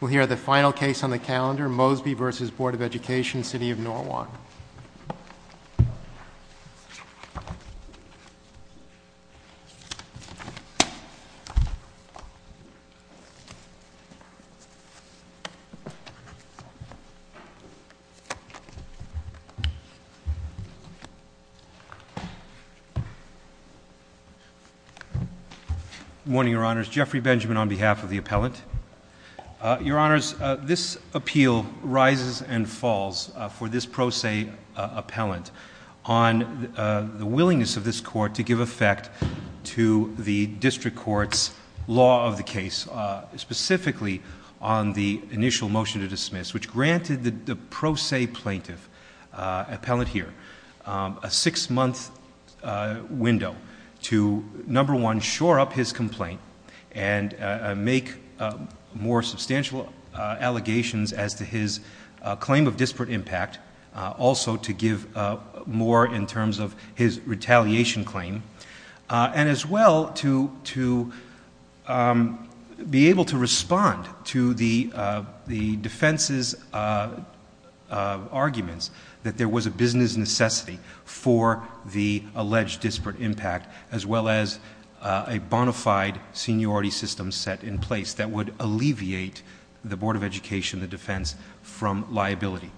We'll hear the final case on the calendar, Mosby v. Board of Education, City of Norwalk. Good morning, Your Honors. Jeffrey Benjamin on behalf of the appellant. Your Honors, this appeal rises and falls for this pro se appellant on the willingness of this court to give effect to the district court's law of the case, specifically on the initial motion to dismiss, which granted the pro se plaintiff, appellant here, a six month window to, number one, shore up his complaint and make more substantial allegations as to his claim of disparate impact, also to give more in terms of his retaliation claim, and as well to be able to respond to the defense's arguments that there was a business necessity for the alleged disparate impact, as well as a bona fide seniority system set in place that would alleviate the Board of Education, the defense, from liability.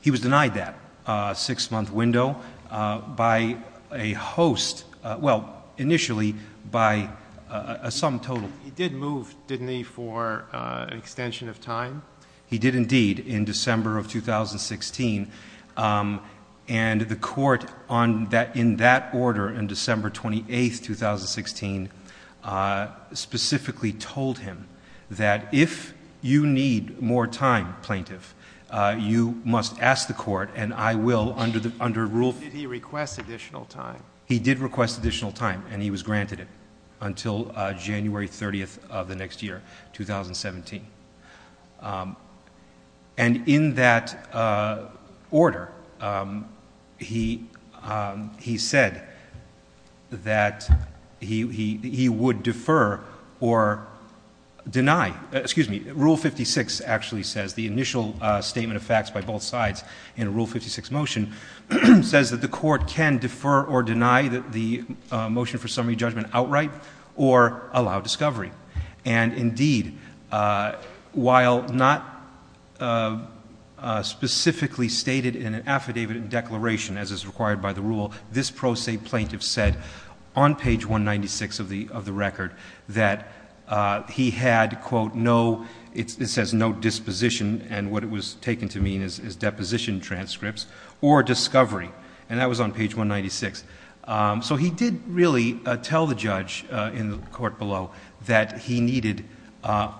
He was denied that six month window by a host, well, initially by a sum total. He did move, didn't he, for an extension of time? He did, indeed, in December of 2016. And the court, in that order, on December 28, 2016, specifically told him that if you need more time, plaintiff, you must ask the court, and I will, under rule... Did he request additional time? He did request additional time, and he was granted it until January 30 of the next year, 2017. And in that order, he said that he would defer or deny. Excuse me. Rule 56 actually says, the initial statement of facts by both sides in Rule 56 motion, says that the court can defer or deny the motion for summary judgment outright or allow discovery. And, indeed, while not specifically stated in an affidavit and declaration, as is required by the rule, this pro se plaintiff said on page 196 of the record that he had, quote, no, it says no disposition, and what it was taken to mean is deposition transcripts, or discovery. And that was on page 196. So he did really tell the judge in the court below that he needed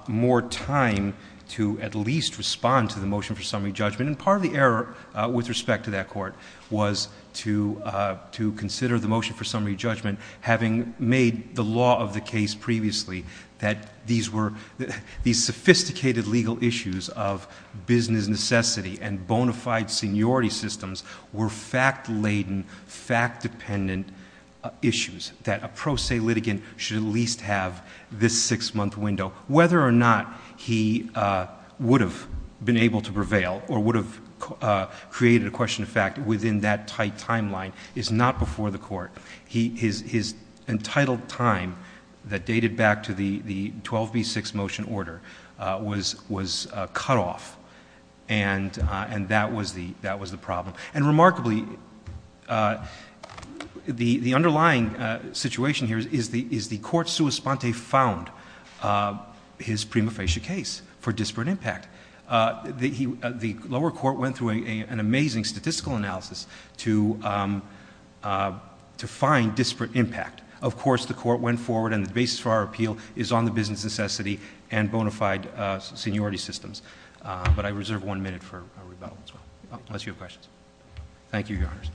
more time to at least respond to the motion for summary judgment. And part of the error with respect to that court was to consider the motion for summary judgment, having made the law of the case previously that these sophisticated legal issues of business necessity and bona fide seniority systems were fact-laden, fact-dependent issues, that a pro se litigant should at least have this six-month window. Whether or not he would have been able to prevail or would have created a question of fact within that tight timeline is not before the court. His entitled time that dated back to the 12B6 motion order was cut off, and that was the problem. And remarkably, the underlying situation here is the court sua sponte found his prima facie case for disparate impact. The lower court went through an amazing statistical analysis to find disparate impact. Of course, the court went forward, and the basis for our appeal is on the business necessity and bona fide seniority systems. But I reserve one minute for rebuttal as well, unless you have questions. Thank you, Your Honors.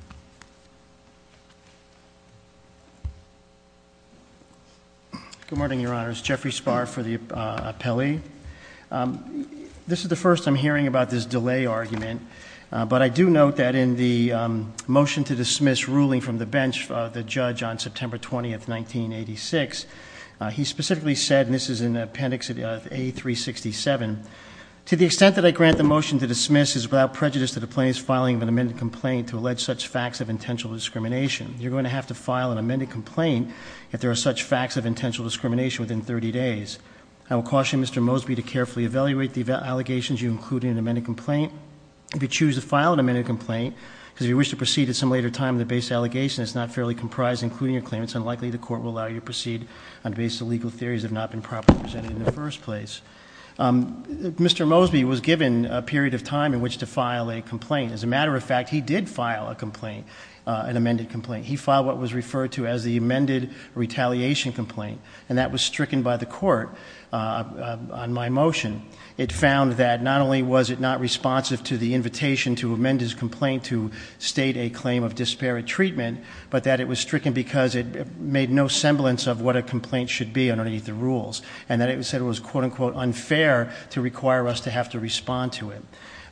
Good morning, Your Honors. Jeffrey Spahr for the appellee. This is the first I'm hearing about this delay argument. But I do note that in the motion to dismiss ruling from the bench, the judge on September 20, 1986, he specifically said, and this is in appendix A367, to the extent that I grant the motion to dismiss is without prejudice to the plaintiff's filing of an amended complaint to allege such facts of intentional discrimination. You're going to have to file an amended complaint if there are such facts of intentional discrimination within 30 days. I will caution Mr. Mosby to carefully evaluate the allegations you include in an amended complaint. If you choose to file an amended complaint, because if you wish to proceed at some later time, the base allegation is not fairly comprised, including your claim. It's unlikely the court will allow you to proceed on the basis of legal theories that have not been properly presented in the first place. Mr. Mosby was given a period of time in which to file a complaint. As a matter of fact, he did file a complaint, an amended complaint. He filed what was referred to as the amended retaliation complaint, and that was stricken by the court on my motion. It found that not only was it not responsive to the invitation to amend his complaint to state a claim of disparate treatment, but that it was stricken because it made no semblance of what a complaint should be underneath the rules. And that it said it was quote unquote unfair to require us to have to respond to it.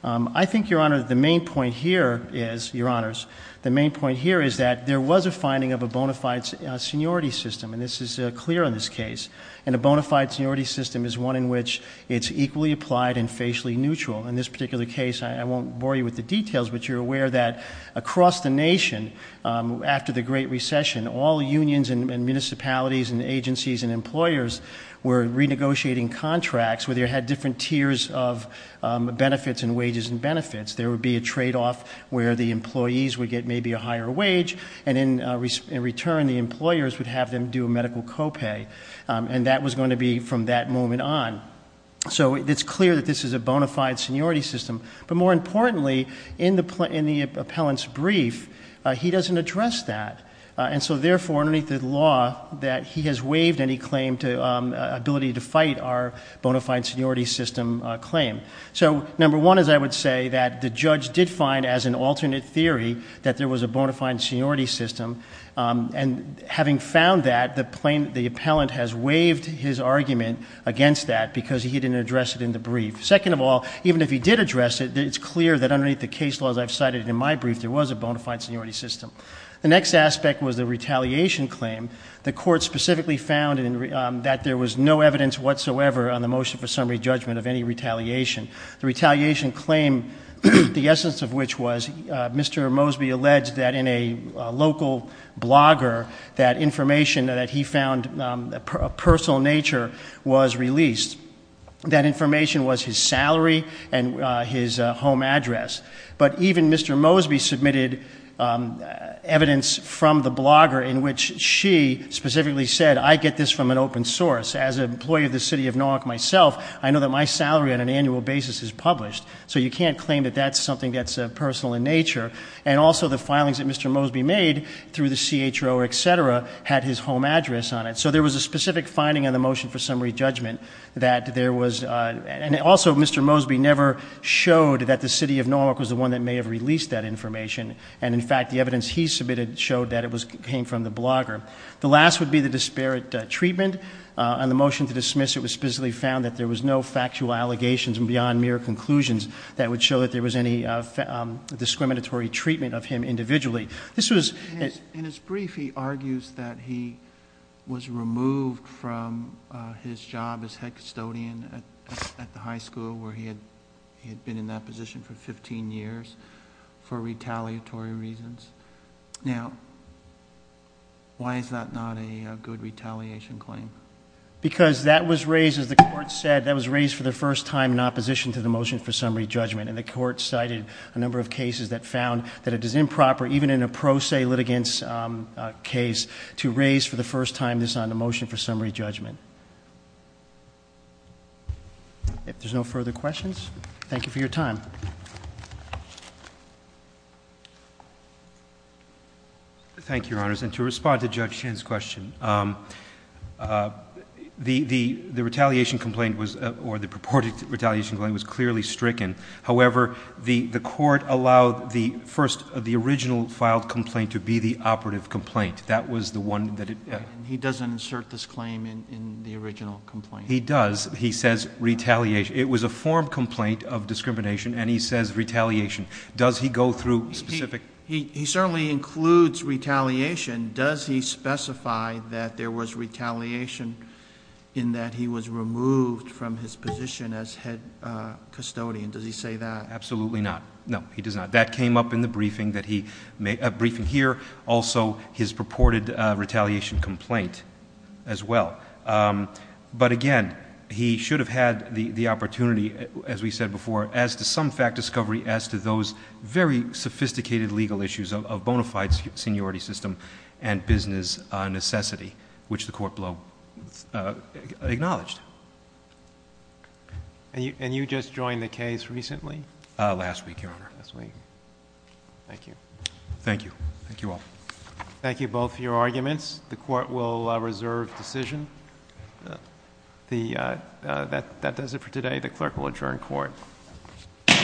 I think, Your Honor, the main point here is, Your Honors, the main point here is that there was a finding of a bona fide seniority system, and this is clear in this case. And a bona fide seniority system is one in which it's equally applied and facially neutral. In this particular case, I won't bore you with the details, but you're aware that across the nation, after the Great Recession, all unions and municipalities and agencies and employers were renegotiating contracts where they had different tiers of benefits and wages and benefits. There would be a trade off where the employees would get maybe a higher wage, and in return, the employers would have them do a medical co-pay, and that was going to be from that moment on. So it's clear that this is a bona fide seniority system. But more importantly, in the appellant's brief, he doesn't address that. And so therefore, underneath the law, that he has waived any claim to ability to fight our bona fide seniority system claim. So number one is I would say that the judge did find as an alternate theory that there was a bona fide seniority system. And having found that, the appellant has waived his argument against that because he didn't address it in the brief. Second of all, even if he did address it, it's clear that underneath the case laws I've cited in my brief, there was a bona fide seniority system. The next aspect was the retaliation claim. The court specifically found that there was no evidence whatsoever on the motion for summary judgment of any retaliation. The retaliation claim, the essence of which was Mr. Mosby alleged that in a local blogger, that information that he found of personal nature was released. That information was his salary and his home address. But even Mr. Mosby submitted evidence from the blogger in which she specifically said, I get this from an open source. As an employee of the city of Norwalk myself, I know that my salary on an annual basis is published. So you can't claim that that's something that's personal in nature. And also the filings that Mr. Mosby made through the CHO, etc., had his home address on it. So there was a specific finding on the motion for summary judgment that there was, and also Mr. Mosby never showed that the city of Norwalk was the one that may have released that information. And in fact, the evidence he submitted showed that it came from the blogger. The last would be the disparate treatment. On the motion to dismiss, it was specifically found that there was no factual allegations beyond mere conclusions that would show that there was any discriminatory treatment of him individually. This was- In his brief, he argues that he was removed from his job as head custodian at the high school where he had been in that position for 15 years for retaliatory reasons. Now, why is that not a good retaliation claim? Because that was raised, as the court said, that was raised for the first time in opposition to the motion for summary judgment. And the court cited a number of cases that found that it is improper, even in a pro se litigants case, to raise for the first time this on the motion for summary judgment. If there's no further questions, thank you for your time. Thank you, Your Honors. And to respond to Judge Chen's question, the retaliation complaint was, or the purported retaliation claim was clearly stricken. However, the court allowed the first, the original filed complaint to be the operative complaint. That was the one that it- He doesn't insert this claim in the original complaint. He does. He says retaliation. It was a form complaint of discrimination, and he says retaliation. Does he go through specific- He certainly includes retaliation. Does he specify that there was retaliation in that he was removed from his position as head custodian? Does he say that? Absolutely not. No, he does not. That came up in the briefing here. Also, his purported retaliation complaint as well. But again, he should have had the opportunity, as we said before, as to some fact discovery, as to those very sophisticated legal issues of bona fide seniority system and business necessity, which the court below acknowledged. And you just joined the case recently? Last week, Your Honor. Last week. Thank you. Thank you. Thank you all. Thank you both for your arguments. The court will reserve decision. That does it for today. The clerk will adjourn court. Court is adjourned.